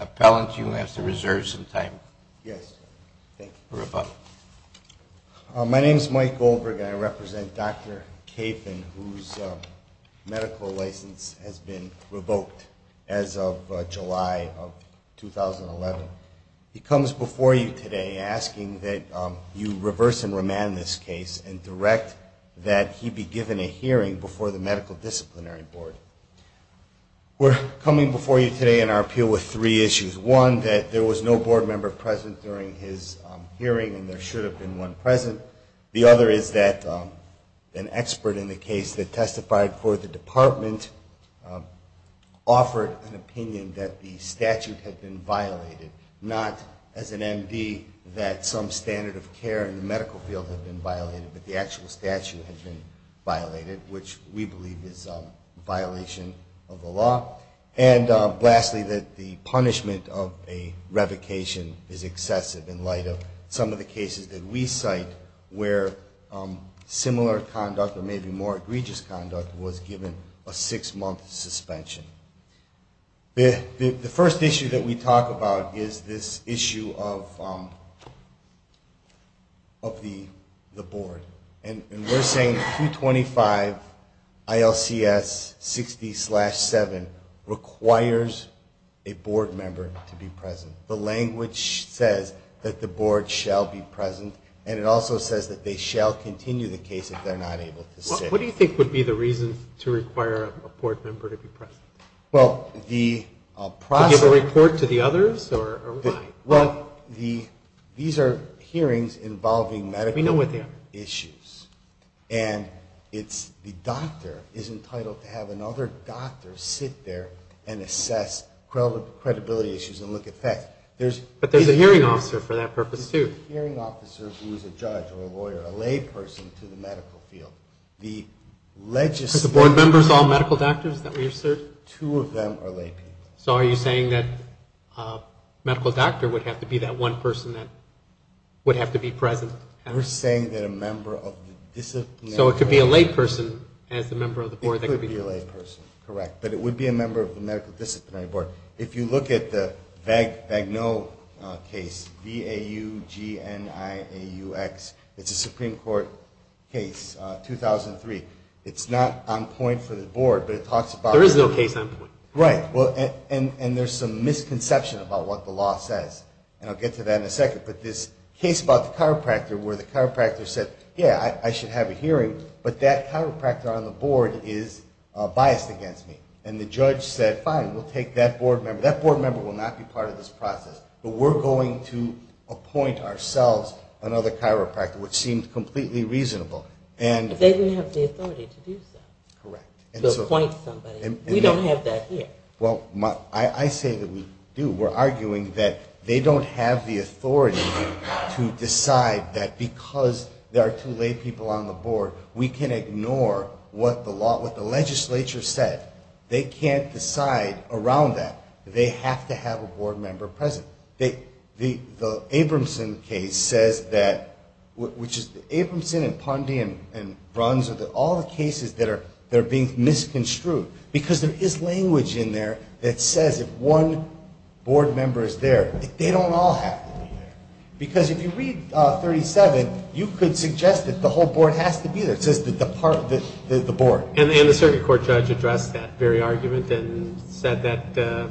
Appellant, you have to reserve some time for rebuttal. My name is Mike Goldberg, and I represent Dr. Kafin, whose medical license has been revoked as of July of 2011. He comes before you today asking that you reverse and remand this case and direct that he be given a hearing before the Medical Disciplinary Board. We're coming before you today in our appeal with three issues. One, that there was no board member present during his hearing and there should have been one present. The other is that an expert in the case that testified for the department offered an opinion that the statute had been violated, not as an MD that some standard of care in the medical field had been violated, but the actual statute had been violated, which we believe is a violation of the law. And lastly, that the punishment of a revocation is excessive in light of some of the cases that we cite where similar conduct or maybe more egregious conduct was given a six-month suspension. The first issue that we talk about is this issue of the board. And we're saying 225 ILCS 60-7 requires a board member to be present. The language says that the board shall be present, and it also says that they shall continue the case if they're not able to sit. What do you think would be the reason to require a board member to be present? Well, the process... To give a report to the others or why? Well, these are hearings involving medical issues. We know what they are. And the doctor is entitled to have another doctor sit there and assess credibility issues and look at facts. But there's a hearing officer for that purpose, too. There's a hearing officer who is a judge or a lawyer, a layperson to the medical field. Does the board members all medical doctors, is that what you're asserting? Two of them are laypeople. So are you saying that a medical doctor would have to be that one person that would have to be present? We're saying that a member of the disciplinary board... So it could be a layperson as the member of the board that could be present. Correct, but it would be a member of the medical disciplinary board. If you look at the Vagnoe case, V-A-U-G-N-I-A-U-X, it's a Supreme Court case, 2003. It's not on point for the board, but it talks about... There is no case on point. Right, and there's some misconception about what the law says, and I'll get to that in a second. But this case about the chiropractor where the chiropractor said, yeah, I should have a hearing, but that chiropractor on the board is biased against me. And the judge said, fine, we'll take that board member. That board member will not be part of this process, but we're going to appoint ourselves another chiropractor, which seems completely reasonable. But they don't have the authority to do so, to appoint somebody. We don't have that here. Well, I say that we do. We're arguing that they don't have the authority to decide that because there are two laypeople on the board, we can ignore what the legislature said. They can't decide around that. They have to have a board member present. The Abramson case says that... Abramson and Pondy and Bruns, all the cases that are being misconstrued, because there is language in there that says if one board member is there, they don't all have to be there. Because if you read 37, you could suggest that the whole board has to be there. It says the board. And the circuit court judge addressed that very argument and said that the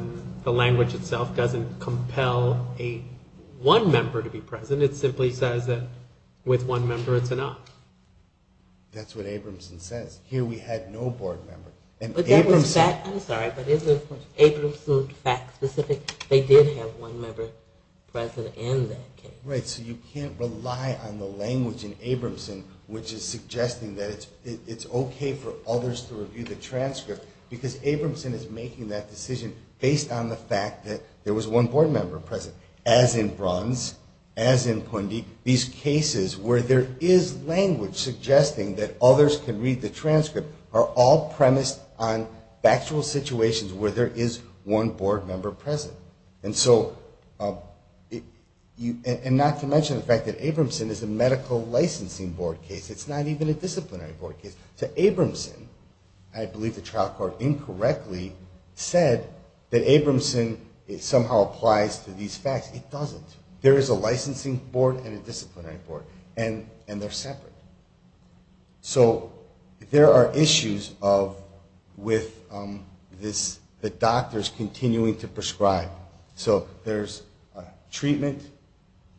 language itself doesn't compel one member to be present. It simply says that with one member, it's enough. That's what Abramson says. Here we had no board member. I'm sorry, but is the Abramson fact specific? They did have one member present in that case. Right, so you can't rely on the language in Abramson, which is suggesting that it's okay for others to review the transcript, because Abramson is making that decision based on the fact that there was one board member present. As in Bruns, as in Pondy, these cases where there is language suggesting that others can read the transcript are all premised on factual situations where there is one board member present. And not to mention the fact that Abramson is a medical licensing board case. It's not even a disciplinary board case. So Abramson, I believe the trial court incorrectly said that Abramson somehow applies to these facts. It doesn't. There is a licensing board and a disciplinary board, and they're separate. So there are issues with the doctors continuing to prescribe. So there's treatment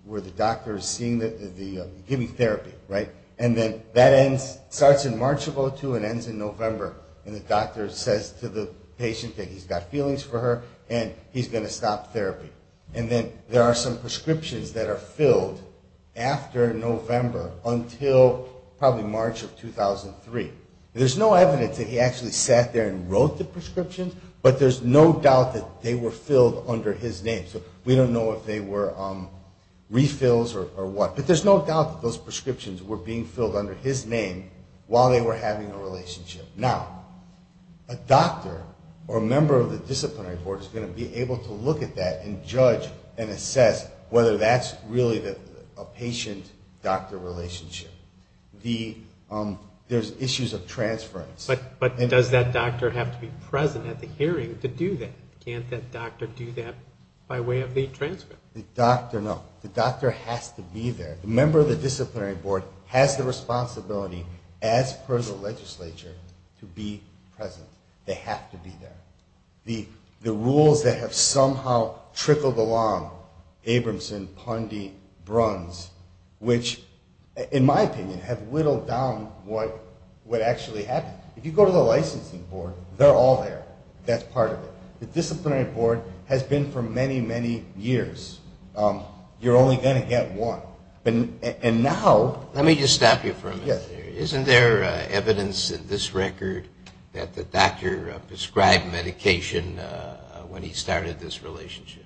where the doctor is giving therapy, right? And then that starts in March of 2002 and ends in November, and the doctor says to the patient that he's got feelings for her and he's going to stop therapy. And then there are some prescriptions that are filled after November until probably March of 2003. There's no evidence that he actually sat there and wrote the prescriptions, but there's no doubt that they were filled under his name. So we don't know if they were refills or what. But there's no doubt that those prescriptions were being filled under his name while they were having a relationship. Now, a doctor or a member of the disciplinary board is going to be able to look at that and judge and assess whether that's really a patient-doctor relationship. There's issues of transference. But does that doctor have to be present at the hearing to do that? Can't that doctor do that by way of the transcript? The doctor, no. The doctor has to be there. The member of the disciplinary board has the responsibility, as per the legislature, to be present. They have to be there. The rules that have somehow trickled along, Abramson, Pundy, Bruns, which, in my opinion, have whittled down what actually happened. If you go to the licensing board, they're all there. That's part of it. The disciplinary board has been for many, many years. You're only going to get one. And now... Let me just stop you for a minute there. Isn't there evidence in this record that the doctor prescribed medication when he started this relationship?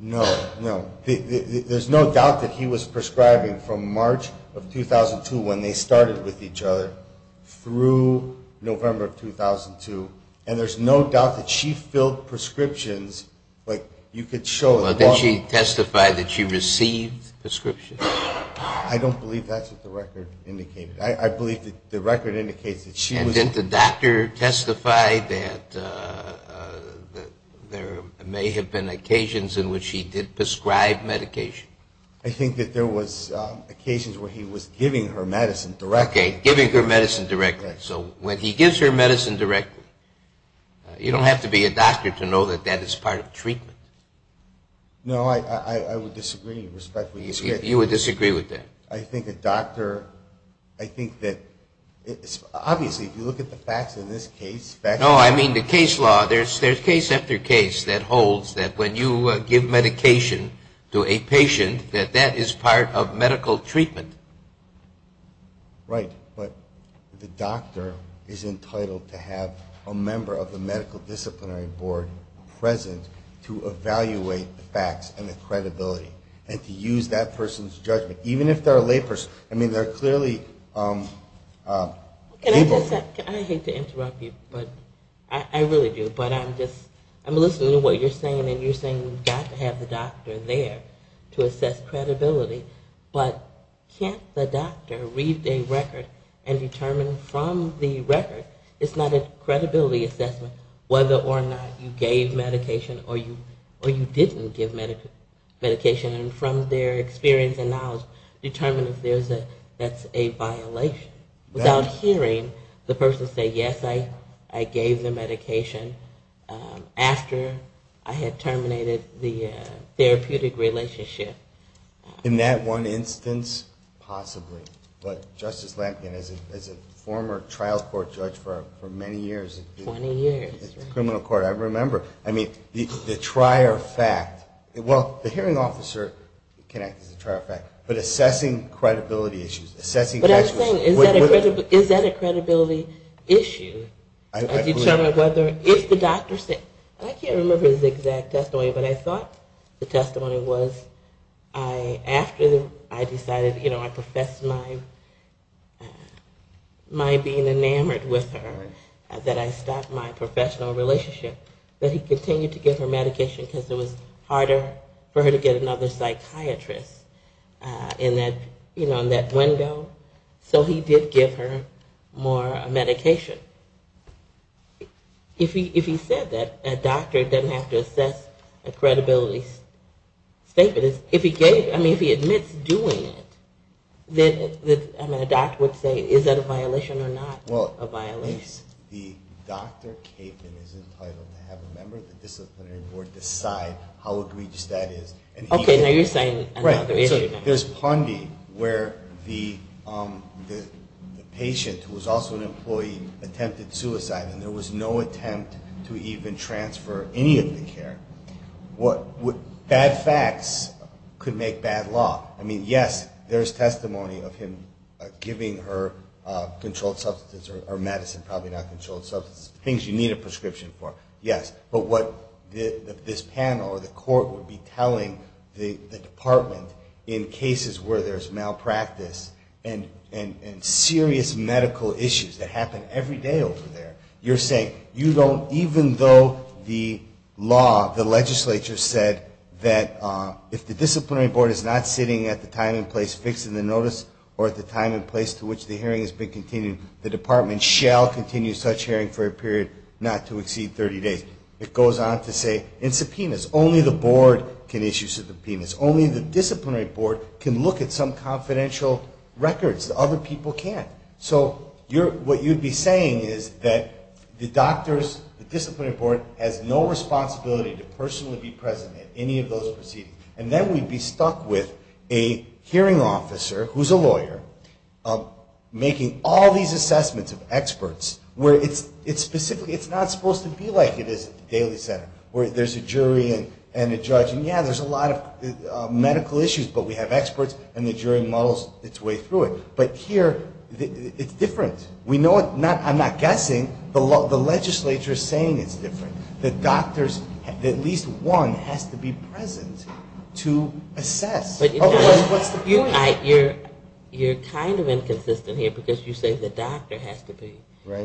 No, no. There's no doubt that he was prescribing from March of 2002, when they started with each other, through November of 2002. And there's no doubt that she filled prescriptions. Like, you could show... Well, did she testify that she received prescriptions? I don't believe that's what the record indicated. I believe that the record indicates that she was... And didn't the doctor testify that there may have been occasions in which he did prescribe medication? I think that there was occasions where he was giving her medicine directly. Okay, giving her medicine directly. So when he gives her medicine directly, you don't have to be a doctor to know that that is part of treatment. No, I would disagree, respectfully. You would disagree with that? I think a doctor... I think that... Obviously, if you look at the facts in this case... No, I mean the case law. There's case after case that holds that when you give medication to a patient, that that is part of medical treatment. Right, but the doctor is entitled to have a member of the medical disciplinary board present to evaluate the facts and the credibility, and to use that person's judgment. Even if they're a lay person. I mean, they're clearly... Can I just... I hate to interrupt you, but... I really do, but I'm just... I'm listening to what you're saying, and you're saying we've got to have the doctor there to assess credibility. But can't the doctor read a record and determine from the record, it's not a credibility assessment, whether or not you gave medication or you didn't give medication, and from their experience and knowledge, determine if that's a violation. Without hearing the person say, yes, I gave the medication after I had terminated the therapeutic relationship. In that one instance, possibly. But Justice Lankin, as a former trial court judge for many years... 20 years. Criminal court, I remember. I mean, the trier fact... Well, the hearing officer can act as a trier fact, but assessing credibility issues... But I'm saying, is that a credibility issue? I agree with that. I can't remember his exact testimony, but I thought the testimony was after I decided, you know, I professed my being enamored with her, that I stopped my professional relationship, that he continued to give her medication because it was harder for her to get another psychiatrist in that window. So he did give her more medication. If he said that, a doctor doesn't have to assess a credibility statement. If he admits doing it, then a doctor would say, is that a violation or not? Well, the doctor is entitled to have a member of the disciplinary board decide how egregious that is. Okay, now you're saying another issue. There's Pondy, where the patient, who was also an employee, attempted suicide, and there was no attempt to even transfer any of the care. Bad facts could make bad law. I mean, yes, there's testimony of him giving her controlled substance or medicine, probably not controlled substance, things you need a prescription for, yes. But what this panel or the court would be telling the department in cases where there's malpractice and serious medical issues that happen every day over there, you're saying you don't, even though the law, the legislature said that if the disciplinary board is not sitting at the time and place fixed in the notice or at the time and place to which the hearing has been continued, the department shall continue such hearing for a period not to exceed 30 days. It goes on to say in subpoenas, only the board can issue subpoenas. Only the disciplinary board can look at some confidential records. Other people can't. So what you'd be saying is that the doctors, the disciplinary board, has no responsibility to personally be present at any of those proceedings. And then we'd be stuck with a hearing officer who's a lawyer making all these assessments of experts where it's specifically, it's not supposed to be like it is at the Daly Center, where there's a jury and a judge, and yeah, there's a lot of medical issues, but we have experts and the jury models its way through it. But here, it's different. I'm not guessing. The legislature is saying it's different. The doctors, at least one has to be present to assess. What's the point? You're kind of inconsistent here because you say the doctor has to be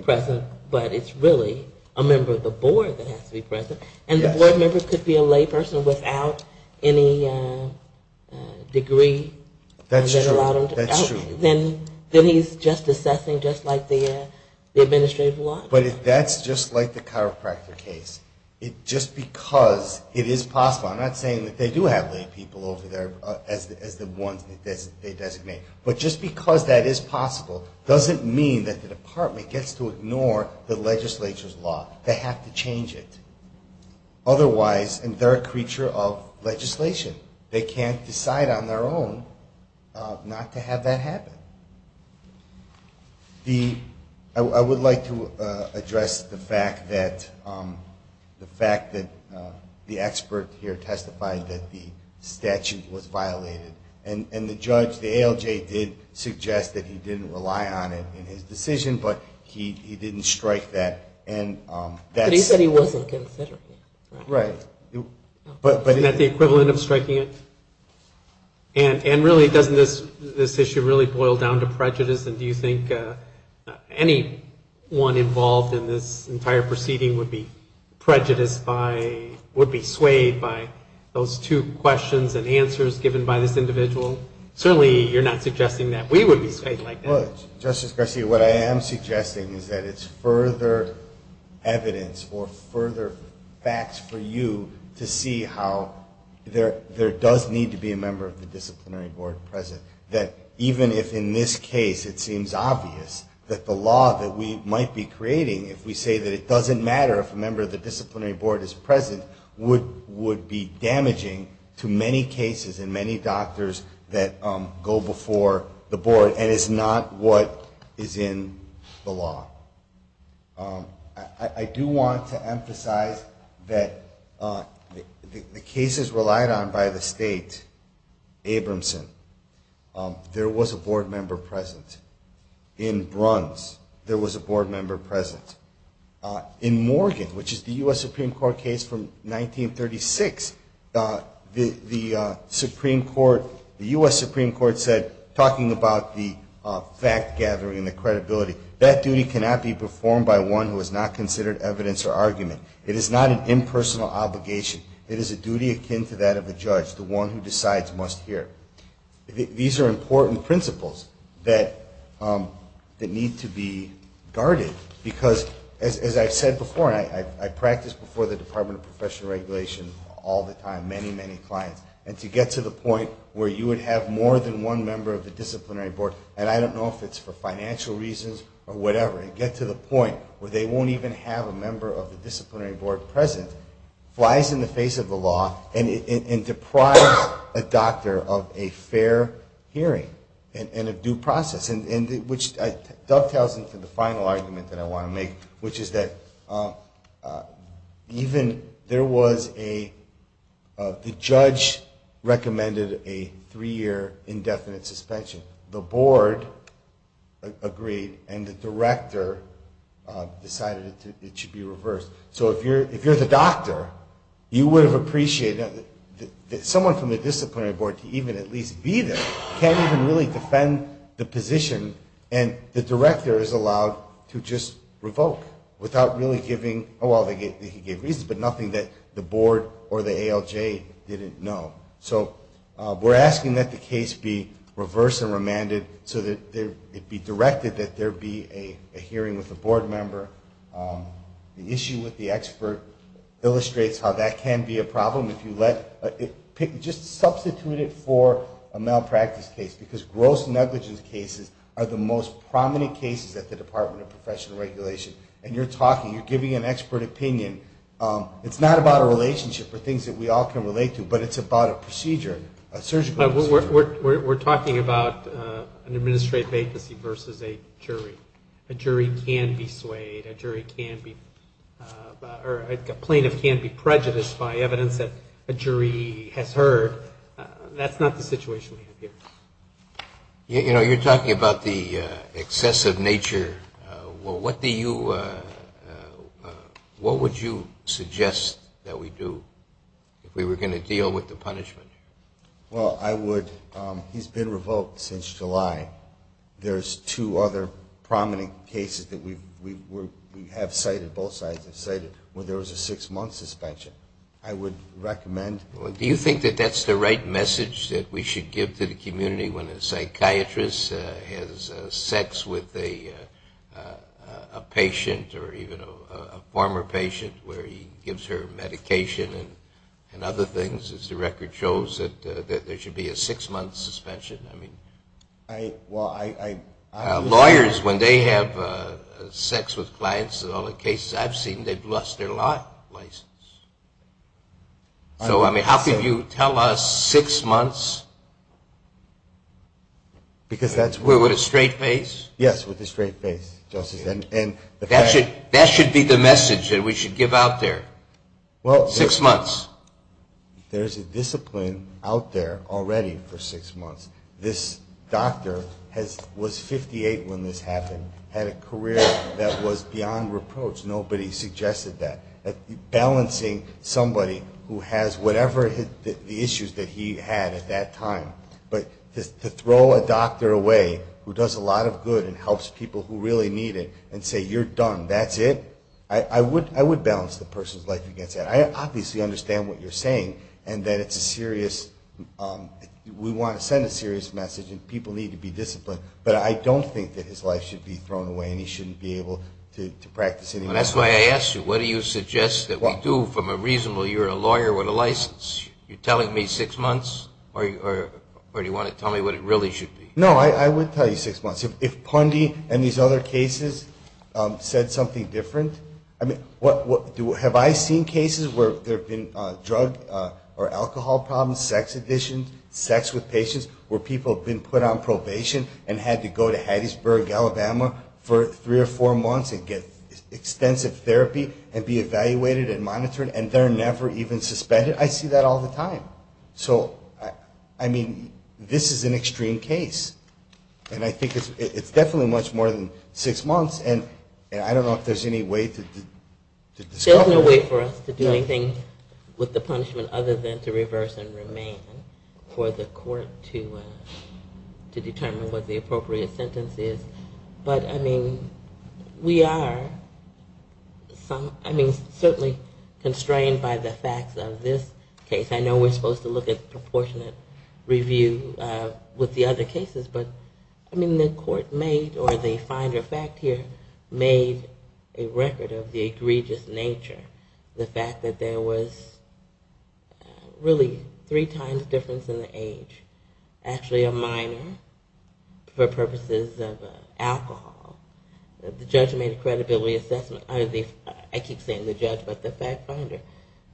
present, but it's really a member of the board that has to be present. And the board member could be a layperson without any degree. That's true. Then he's just assessing just like the administrative law. But if that's just like the chiropractor case, just because it is possible, I'm not saying that they do have laypeople over there as the ones they designate, but just because that is possible doesn't mean that the department gets to ignore the legislature's law. They have to change it. Otherwise, they're a creature of legislation. They can't decide on their own not to have that happen. I would like to address the fact that the expert here testified that the statute was violated. And the judge, the ALJ, did suggest that he didn't rely on it in his decision, but he didn't strike that. But he said he wasn't considering it. Right. Isn't that the equivalent of striking it? And really, doesn't this issue really boil down to prejudice? And do you think anyone involved in this entire proceeding would be prejudiced by, would be swayed by those two questions and answers given by this individual? Certainly you're not suggesting that we would be swayed like that. Well, Justice Garcia, what I am suggesting is that it's further evidence or further facts for you to see how there does need to be a member of the disciplinary board present. That even if in this case it seems obvious that the law that we might be creating, if we say that it doesn't matter if a member of the disciplinary board is present, would be damaging to many cases and many doctors that go before the board and is not what is in the law. I do want to emphasize that the cases relied on by the state, Abramson, there was a board member present. In Bruns, there was a board member present. In Morgan, which is the U.S. Supreme Court case from 1936, the Supreme Court, the U.S. Supreme Court said, talking about the fact-gathering and the credibility, that duty cannot be performed by one who is not considered evidence or argument. It is not an impersonal obligation. It is a duty akin to that of a judge, the one who decides must hear. These are important principles that need to be guarded because, as I've said before, and I practice before the Department of Professional Regulation all the time, many, many clients, and to get to the point where you would have more than one member of the disciplinary board, and I don't know if it's for financial reasons or whatever, and get to the point where they won't even have a member of the disciplinary board present, flies in the face of the law and deprives a doctor of a fair hearing and a due process, which dovetails into the final argument that I want to make, which is that even there was a, the judge recommended a three-year indefinite suspension. The board agreed, and the director decided it should be reversed. So if you're the doctor, you would have appreciated that someone from the disciplinary board to even at least be there can't even really defend the position, and the director is allowed to just revoke without really giving, well, they could give reasons, but nothing that the board or the ALJ didn't know. So we're asking that the case be reversed and remanded so that it be directed that there be a hearing with a board member. The issue with the expert illustrates how that can be a problem. Just substitute it for a malpractice case, because gross negligence cases are the most prominent cases at the Department of Professional Regulation, and you're talking, you're giving an expert opinion. It's not about a relationship or things that we all can relate to, but it's about a procedure, a surgical procedure. We're talking about an administrative vacancy versus a jury. A jury can be swayed. A jury can be, or a plaintiff can be prejudiced by evidence that a jury has heard. That's not the situation we have here. You know, you're talking about the excessive nature. Well, what do you, what would you suggest that we do if we were going to deal with the punishment? Well, I would, he's been revoked since July. There's two other prominent cases that we have cited, both sides have cited, where there was a six-month suspension. I would recommend. Do you think that that's the right message that we should give to the community when a psychiatrist has sex with a patient or even a former patient where he gives her medication and other things, as the record shows, that there should be a six-month suspension? I mean, lawyers, when they have sex with clients in all the cases I've seen, they've lost their license. So, I mean, how can you tell us six months with a straight face? Yes, with a straight face, Justice. That should be the message that we should give out there, six months. There's a discipline out there already for six months. This doctor was 58 when this happened, had a career that was beyond reproach. Nobody suggested that. Balancing somebody who has whatever the issues that he had at that time, but to throw a doctor away who does a lot of good and helps people who really need it and say, you're done, that's it, I would balance the person's life against that. I obviously understand what you're saying and that we want to send a serious message and people need to be disciplined, but I don't think that his life should be thrown away and he shouldn't be able to practice anymore. That's why I asked you, what do you suggest that we do from a reasonable, you're a lawyer with a license, you're telling me six months or do you want to tell me what it really should be? No, I would tell you six months. If Pundy and these other cases said something different, have I seen cases where there have been drug or alcohol problems, sex addictions, sex with patients where people have been put on probation and had to go to Hattiesburg, Alabama for three or four months and get extensive therapy and be evaluated and monitored and they're never even suspended? I see that all the time. So, I mean, this is an extreme case and I think it's definitely much more than six months and I don't know if there's any way to discover that. There's no way for us to do anything with the punishment other than to reverse and remain for the court to determine what the appropriate sentence is. But, I mean, we are certainly constrained by the facts of this case. I know we're supposed to look at proportionate review with the other cases, but, I mean, the court made or the Finder fact here made a record of the egregious nature. The fact that there was really three times difference in the age. Actually a minor for purposes of alcohol. The judge made a credibility assessment, I keep saying the judge, but the fact finder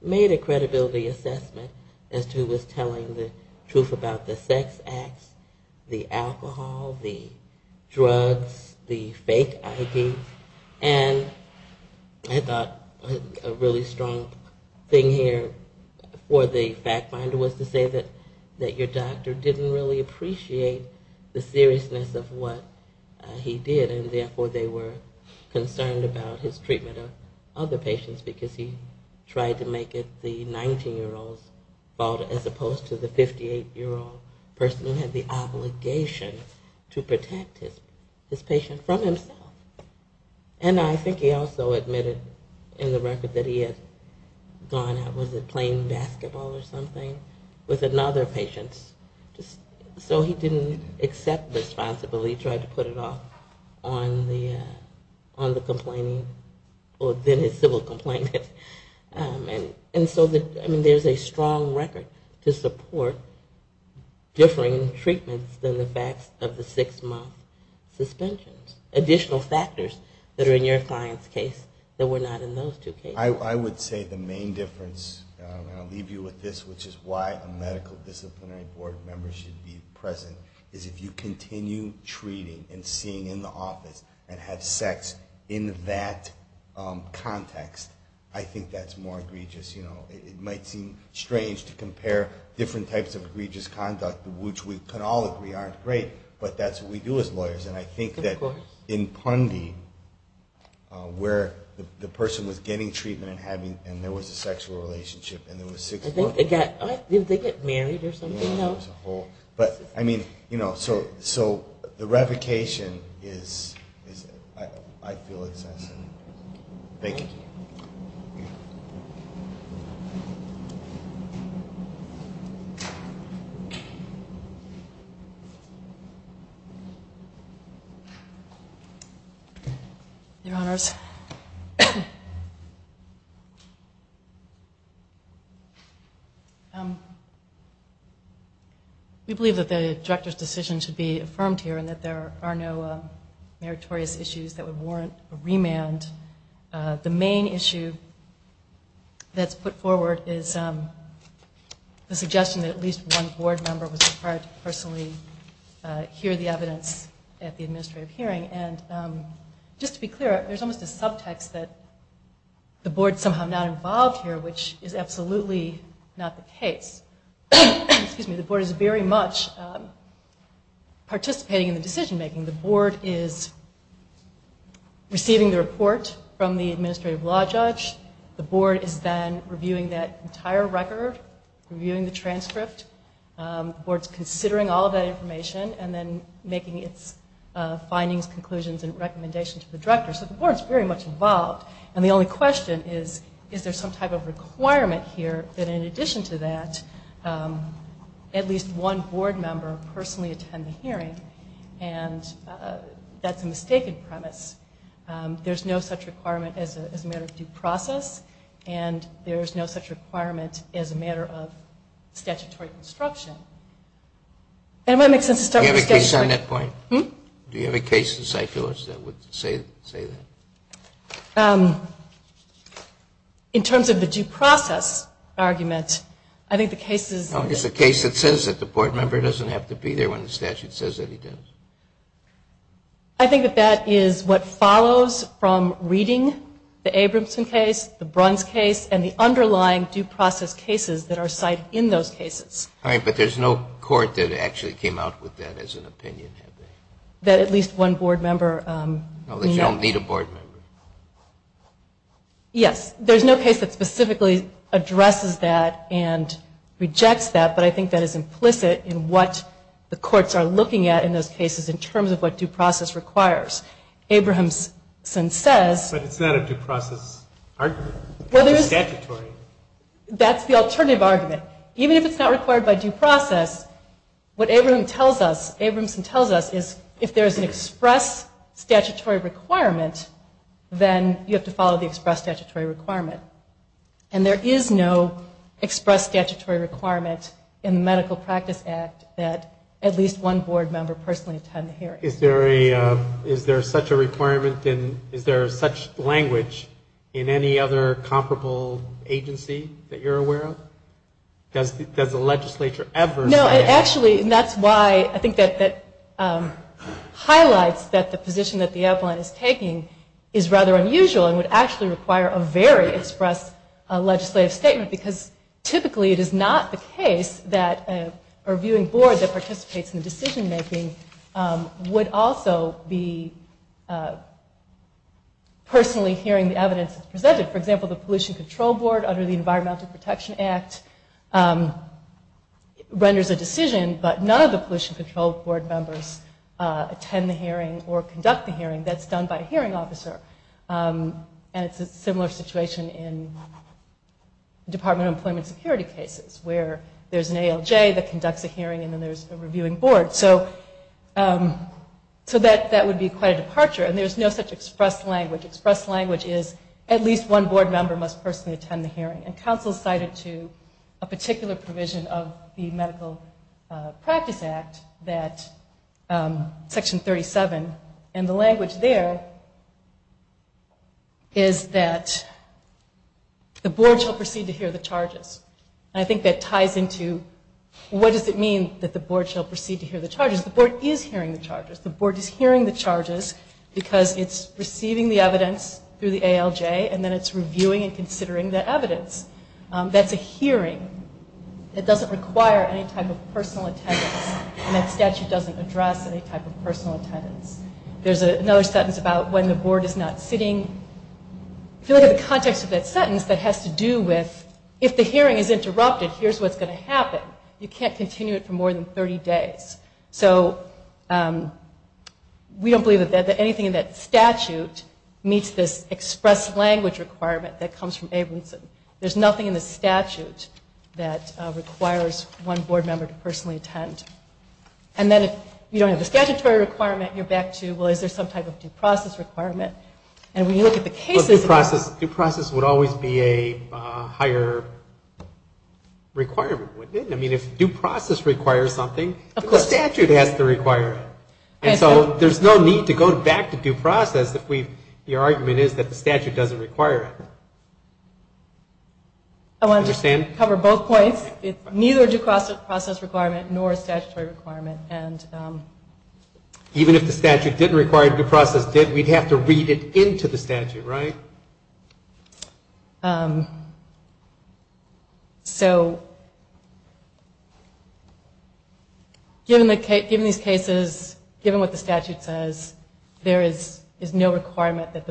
made a credibility assessment as to who was telling the truth about the sex acts, the alcohol, the drugs, the fake IDs, and I thought a really strong thing here for the fact finder was to say that your doctor didn't really appreciate the seriousness of what he did and therefore they were concerned about his treatment of other patients because he tried to make it the 19-year-old's fault as opposed to the 58-year-old person who had the obligation to protect his patient from himself. And I think he also admitted in the record that he had gone out, was it playing basketball or something, with another patient so he didn't accept responsibility. He tried to put it off on the complaining or then his civil complaint. And so there's a strong record to support differing treatments than the facts of the six-month suspensions. Additional factors that are in your client's case that were not in those two cases. I would say the main difference, and I'll leave you with this, which is why a medical disciplinary board member should be present, is if you continue treating and seeing in the office and have sex in that context, I think that's more egregious. It might seem strange to compare different types of egregious conduct, which we can all agree aren't great, but that's what we do as lawyers. And I think that in Pundy, where the person was getting treatment and there was a sexual relationship and there was six months... Did they get married or something? Yeah, there was a whole... So the revocation is, I feel, excessive. Thank you. Thank you. Your Honors... We believe that the Director's decision should be affirmed here and that there are no meritorious issues that would warrant a remand. The main issue that's put forward is the suggestion that at least one board member was required to personally hear the evidence at the administrative hearing, and just to be clear, there's almost a subtext that the board's somehow not involved here, which is absolutely not the case. Excuse me. The board is very much participating in the decision-making. The board is receiving the report from the administrative law judge. The board is then reviewing that entire record, reviewing the transcript. The board's considering all of that information and then making its findings, conclusions, and recommendations to the Director. So the board's very much involved. And the only question is, is there some type of requirement here that in addition to that, at least one board member personally attend the hearing? And that's a mistaken premise. There's no such requirement as a matter of due process, and there's no such requirement as a matter of statutory construction. Does that make sense? Do you have a case on that point? Hmm? Do you have a case in Cyclos that would say that? In terms of the due process argument, I think the case is... It's a case that says that the board member doesn't have to be there when the statute says that he does. I think that that is what follows from reading the Abramson case, the Bruns case, and the underlying due process cases that are cited in those cases. All right, but there's no court that actually came out with that as an opinion, have they? That at least one board member... At least you don't need a board member. Yes. There's no case that specifically addresses that and rejects that, but I think that is implicit in what the courts are looking at in those cases in terms of what due process requires. Abramson says... But it's not a due process argument. It's a statutory argument. That's the alternative argument. Even if it's not required by due process, what Abramson tells us is if there's an express statutory requirement, then you have to follow the express statutory requirement. And there is no express statutory requirement in the Medical Practice Act that at least one board member personally attend the hearing. Is there such a requirement in... Is there such language in any other comparable agency that you're aware of? Does the legislature ever say that? No, and actually that's why I think that highlights that the position that the outline is taking is rather unusual and would actually require a very express legislative statement because typically it is not the case that a reviewing board that participates in the decision-making would also be personally hearing the evidence presented. For example, the Pollution Control Board under the Environmental Protection Act renders a decision, but none of the Pollution Control Board members attend the hearing or conduct the hearing. That's done by a hearing officer. And it's a similar situation in Department of Employment Security cases where there's an ALJ that conducts a hearing and then there's a reviewing board. So that would be quite a departure. And there's no such express language. Express language is at least one board member must personally attend the hearing. And counsel cited to a particular provision of the Medical Practice Act, Section 37, and the language there is that the board shall proceed to hear the charges. And I think that ties into what does it mean that the board shall proceed to hear the charges? The board is hearing the charges. The board is hearing the charges because it's receiving the evidence through the ALJ and then it's reviewing and considering that evidence. That's a hearing. It doesn't require any type of personal attendance. And that statute doesn't address any type of personal attendance. There's another sentence about when the board is not sitting. I feel like the context of that sentence that has to do with if the hearing is interrupted, here's what's going to happen. You can't continue it for more than 30 days. So we don't believe that anything in that statute meets this express language requirement that comes from Abramson. There's nothing in the statute that requires one board member to personally attend. And then if you don't have the statutory requirement, you're back to, well, is there some type of due process requirement? And when you look at the cases of that. Due process would always be a higher requirement, wouldn't it? I mean, if due process requires something, the statute has to require it. And so there's no need to go back to due process if your argument is that the statute doesn't require it. I want to just cover both points. It's neither due process requirement nor statutory requirement. Even if the statute didn't require due process, we'd have to read it into the statute, right? So given these cases, given what the statute says, there is no requirement that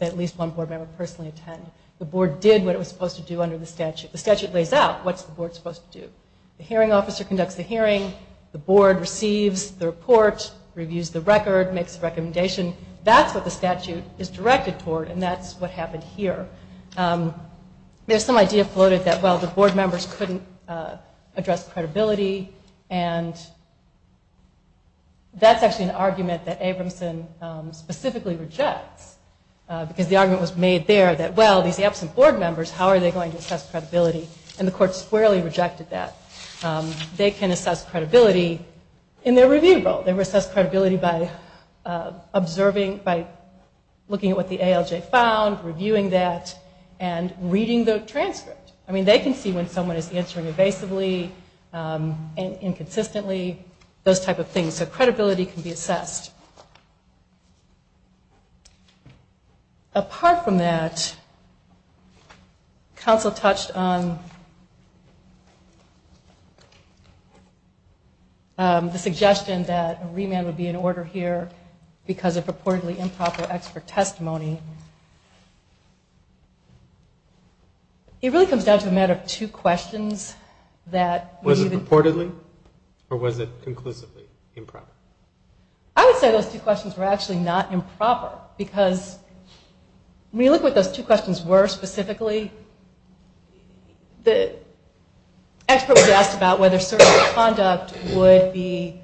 at least one board member personally attend. The board did what it was supposed to do under the statute. The statute lays out what's the board supposed to do. The hearing officer conducts the hearing. The board receives the report, reviews the record, makes a recommendation. That's what the statute is directed toward, and that's what happened here. There's some idea floated that, well, the board members couldn't address credibility, and that's actually an argument that Abramson specifically rejects, because the argument was made there that, well, these absent board members, how are they going to assess credibility? And the court squarely rejected that. They can assess credibility in their review role. They assess credibility by observing, by looking at what the ALJ found, reviewing that, and reading the transcript. I mean, they can see when someone is answering evasively and inconsistently, those type of things. So credibility can be assessed. Apart from that, counsel touched on the suggestion that a remand would be in order here because of purportedly improper expert testimony. It really comes down to a matter of two questions. Was it purportedly, or was it conclusively improper? I would say those two questions were actually not improper, because when you look at what those two questions were specifically, the expert was asked about whether certain conduct would be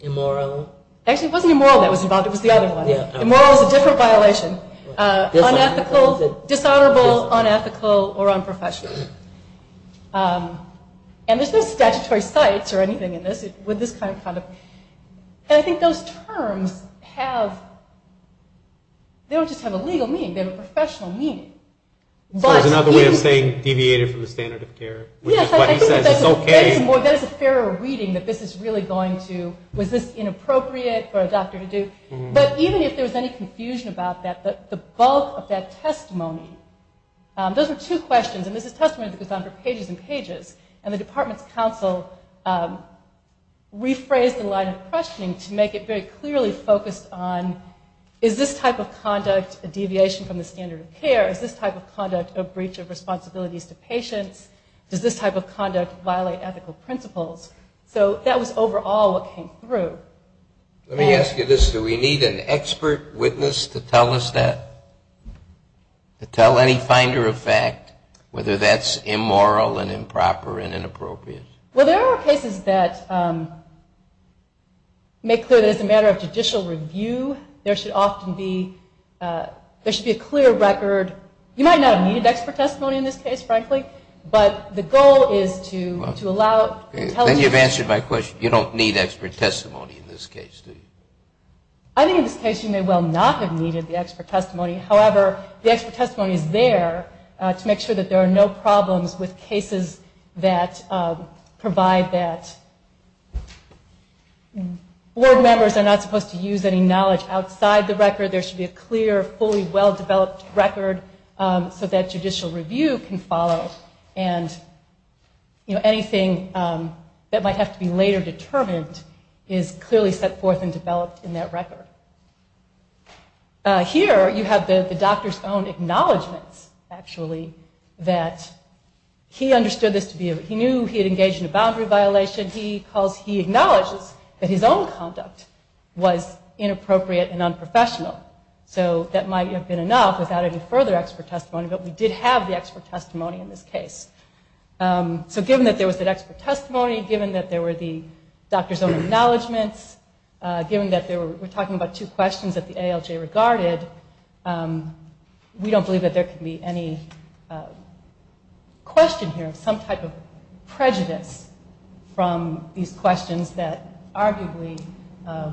immoral. Actually, it wasn't immoral that was involved. It was the other one. Immoral is a different violation. Unethical, dishonorable, unethical, or unprofessional. And there's no statutory sites or anything in this with this kind of conduct. And I think those terms have, they don't just have a legal meaning. They have a professional meaning. So it's another way of saying deviated from the standard of care, which is what he says is okay. That is a fairer reading that this is really going to, was this inappropriate for a doctor to do? But even if there was any confusion about that, the bulk of that testimony, those are two questions, and this is testimony that goes on for pages and pages. And the department's counsel rephrased the line of questioning to make it very clearly focused on, is this type of conduct a deviation from the standard of care? Is this type of conduct a breach of responsibilities to patients? Does this type of conduct violate ethical principles? So that was overall what came through. Let me ask you this. Do we need an expert witness to tell us that? To tell any finder of fact whether that's immoral and improper and inappropriate? Well, there are cases that make clear that as a matter of judicial review, there should often be, there should be a clear record. You might not have needed expert testimony in this case, frankly, but the goal is to allow it. Then you've answered my question. You don't need expert testimony in this case, do you? I think in this case you may well not have needed the expert testimony. However, the expert testimony is there to make sure that there are no problems with cases that provide that. Board members are not supposed to use any knowledge outside the record. There should be a clear, fully well-developed record so that judicial review can follow. And anything that might have to be later determined is clearly set forth and developed in that record. Here you have the doctor's own acknowledgments, actually, that he understood this to be, he knew he had engaged in a boundary violation. He acknowledges that his own conduct was inappropriate and unprofessional. So that might have been enough without any further expert testimony, but we did have the expert testimony in this case. So given that there was that expert testimony, given that there were the doctor's own acknowledgments, given that we're talking about two questions that the ALJ regarded, we don't believe that there can be any question here of some type of prejudice from these questions that arguably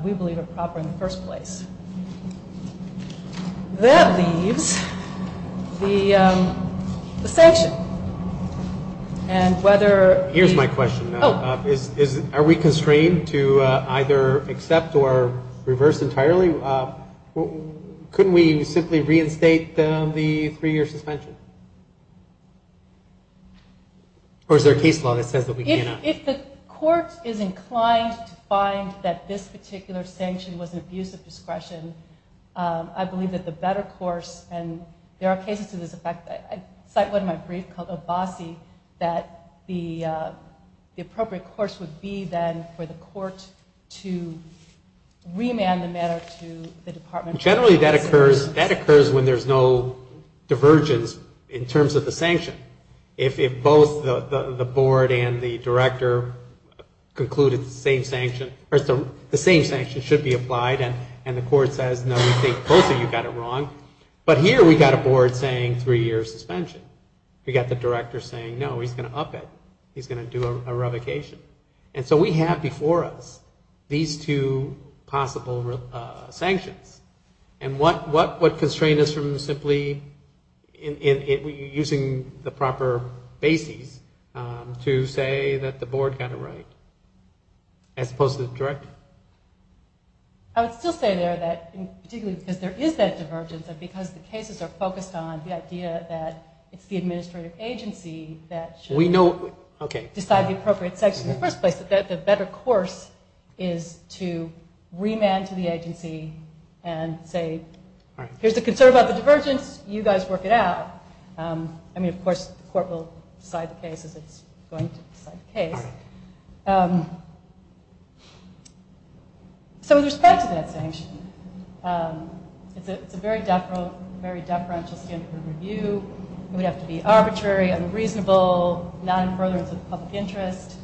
we believe are proper in the first place. That leaves the sanction. And whether... Here's my question. Oh. Are we constrained to either accept or reverse entirely? Couldn't we simply reinstate the three-year suspension? Or is there a case law that says that we cannot? If the court is inclined to find that this particular sanction was an abuse of discretion, I believe that the better course, and there are cases to this effect. I cite one in my brief called Obasi, that the appropriate course would be then for the court to remand the matter to the Department of Justice. Generally, that occurs when there's no divergence in terms of the sanction. If both the board and the director concluded the same sanction should be applied, and the court says, no, we think both of you got it wrong. But here we've got a board saying three-year suspension. We've got the director saying, no, he's going to up it. He's going to do a revocation. And so we have before us these two possible sanctions. And what constrained us from simply using the proper basis to say that the board got it right, as opposed to the director? I would still say there that, particularly because there is that divergence, and because the cases are focused on the idea that it's the administrative agency that should decide the appropriate sanction in the first place, that the better course is to remand to the agency and say, here's the concern about the divergence. You guys work it out. I mean, of course, the court will decide the case as it's going to decide the case. So with respect to that sanction, it's a very deferential standard of review. It would have to be arbitrary, unreasonable, not in furtherance of the public interest.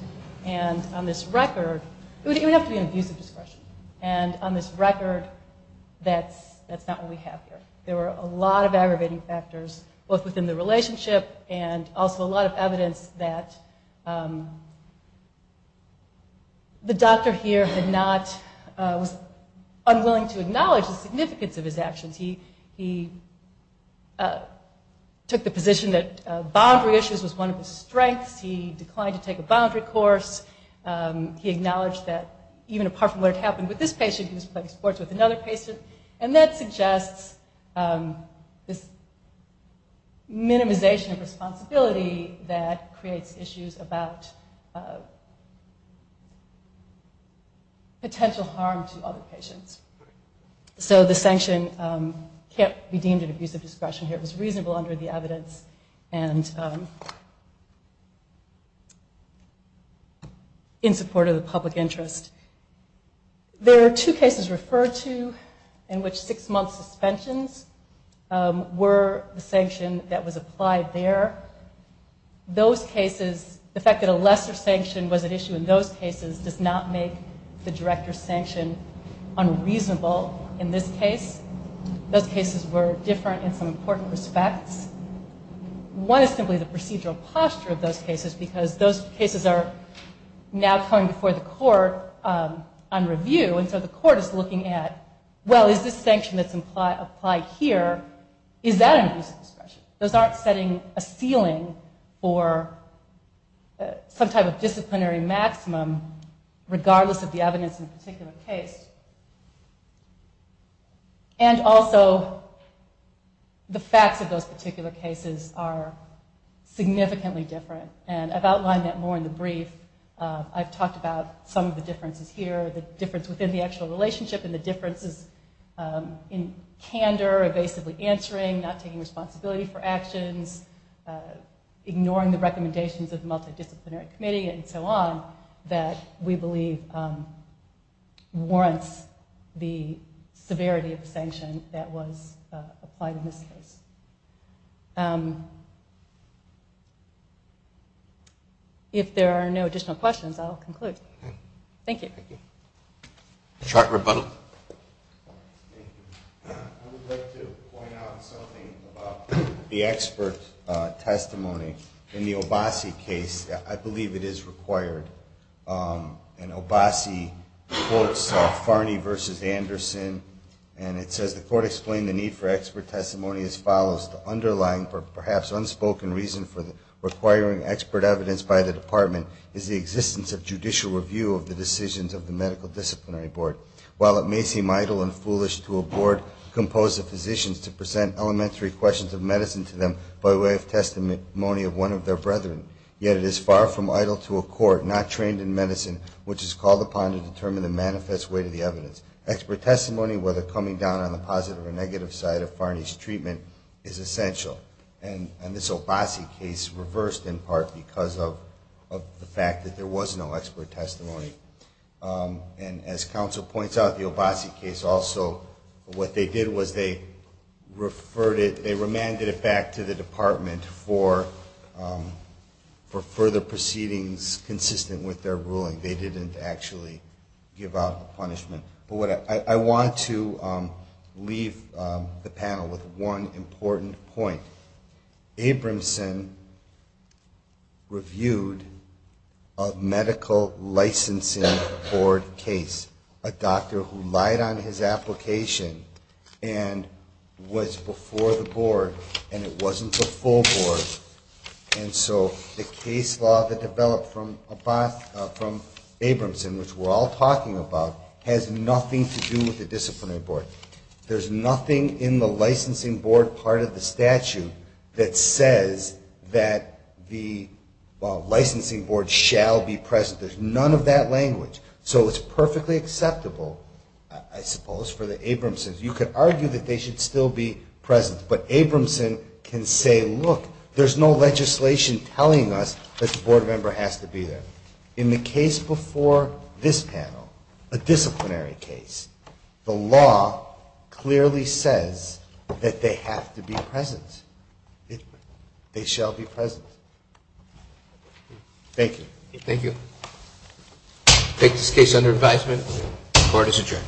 And on this record, it would have to be an abuse of discretion. And on this record, that's not what we have here. There were a lot of aggravating factors, both within the relationship and also a lot of evidence, that the doctor here was unwilling to acknowledge the significance of his actions. He took the position that boundary issues was one of his strengths. He declined to take a boundary course. He acknowledged that even apart from what had happened with this patient, he was playing sports with another patient. And that suggests this minimization of responsibility that creates issues about potential harm to other patients. So the sanction can't be deemed an abuse of discretion here. It was reasonable under the evidence and in support of the public interest. There are two cases referred to in which six-month suspensions were the sanction that was applied there. Those cases, the fact that a lesser sanction was at issue in those cases, does not make the director's sanction unreasonable in this case. Those cases were different in some important respects. One is simply the procedural posture of those cases because those cases are now coming before the court on review. And so the court is looking at, well, is this sanction that's applied here, is that an abuse of discretion? Those aren't setting a ceiling for some type of disciplinary maximum, regardless of the evidence in a particular case. And also, the facts of those particular cases are significantly different. And I've outlined that more in the brief. I've talked about some of the differences here, the difference within the actual relationship, and the differences in candor, evasively answering, not taking responsibility for actions, ignoring the recommendations of the multidisciplinary committee, and so on, that we believe warrants the severity of the sanction that was applied in this case. If there are no additional questions, I'll conclude. Thank you. A short rebuttal. I would like to point out something about the expert testimony. In the Obasi case, I believe it is required. In Obasi, the court saw Farney v. Anderson, and it says, the court explained the need for expert testimony as follows, the underlying, perhaps unspoken, reason for requiring expert evidence by the department is the existence of judicial review of the decisions of the medical disciplinary board. While it may seem idle and foolish to a board composed of physicians to present elementary questions of medicine to them by way of testimony of one of their brethren, yet it is far from idle to a court, not trained in medicine, which is called upon to determine the manifest weight of the evidence. Expert testimony, whether coming down on the positive or negative side of Farney's treatment, is essential. And this Obasi case reversed in part because of the fact that there was no expert testimony. And as counsel points out, the Obasi case also, what they did was they referred it, they remanded it back to the department for further proceedings consistent with their ruling. They didn't actually give out the punishment. I want to leave the panel with one important point. Abramson reviewed a medical licensing board case, a doctor who lied on his application and was before the board and it wasn't the full board. And so the case law that developed from Abramson, which we're all talking about, has nothing to do with the disciplinary board. There's nothing in the licensing board part of the statute that says that the licensing board shall be present. There's none of that language. So it's perfectly acceptable, I suppose, for the Abramsons. You could argue that they should still be present, but Abramson can say, look, there's no legislation telling us that the board member has to be there. In the case before this panel, a disciplinary case, the law clearly says that they have to be present. They shall be present. Thank you. Thank you. I take this case under advisement. Court is adjourned.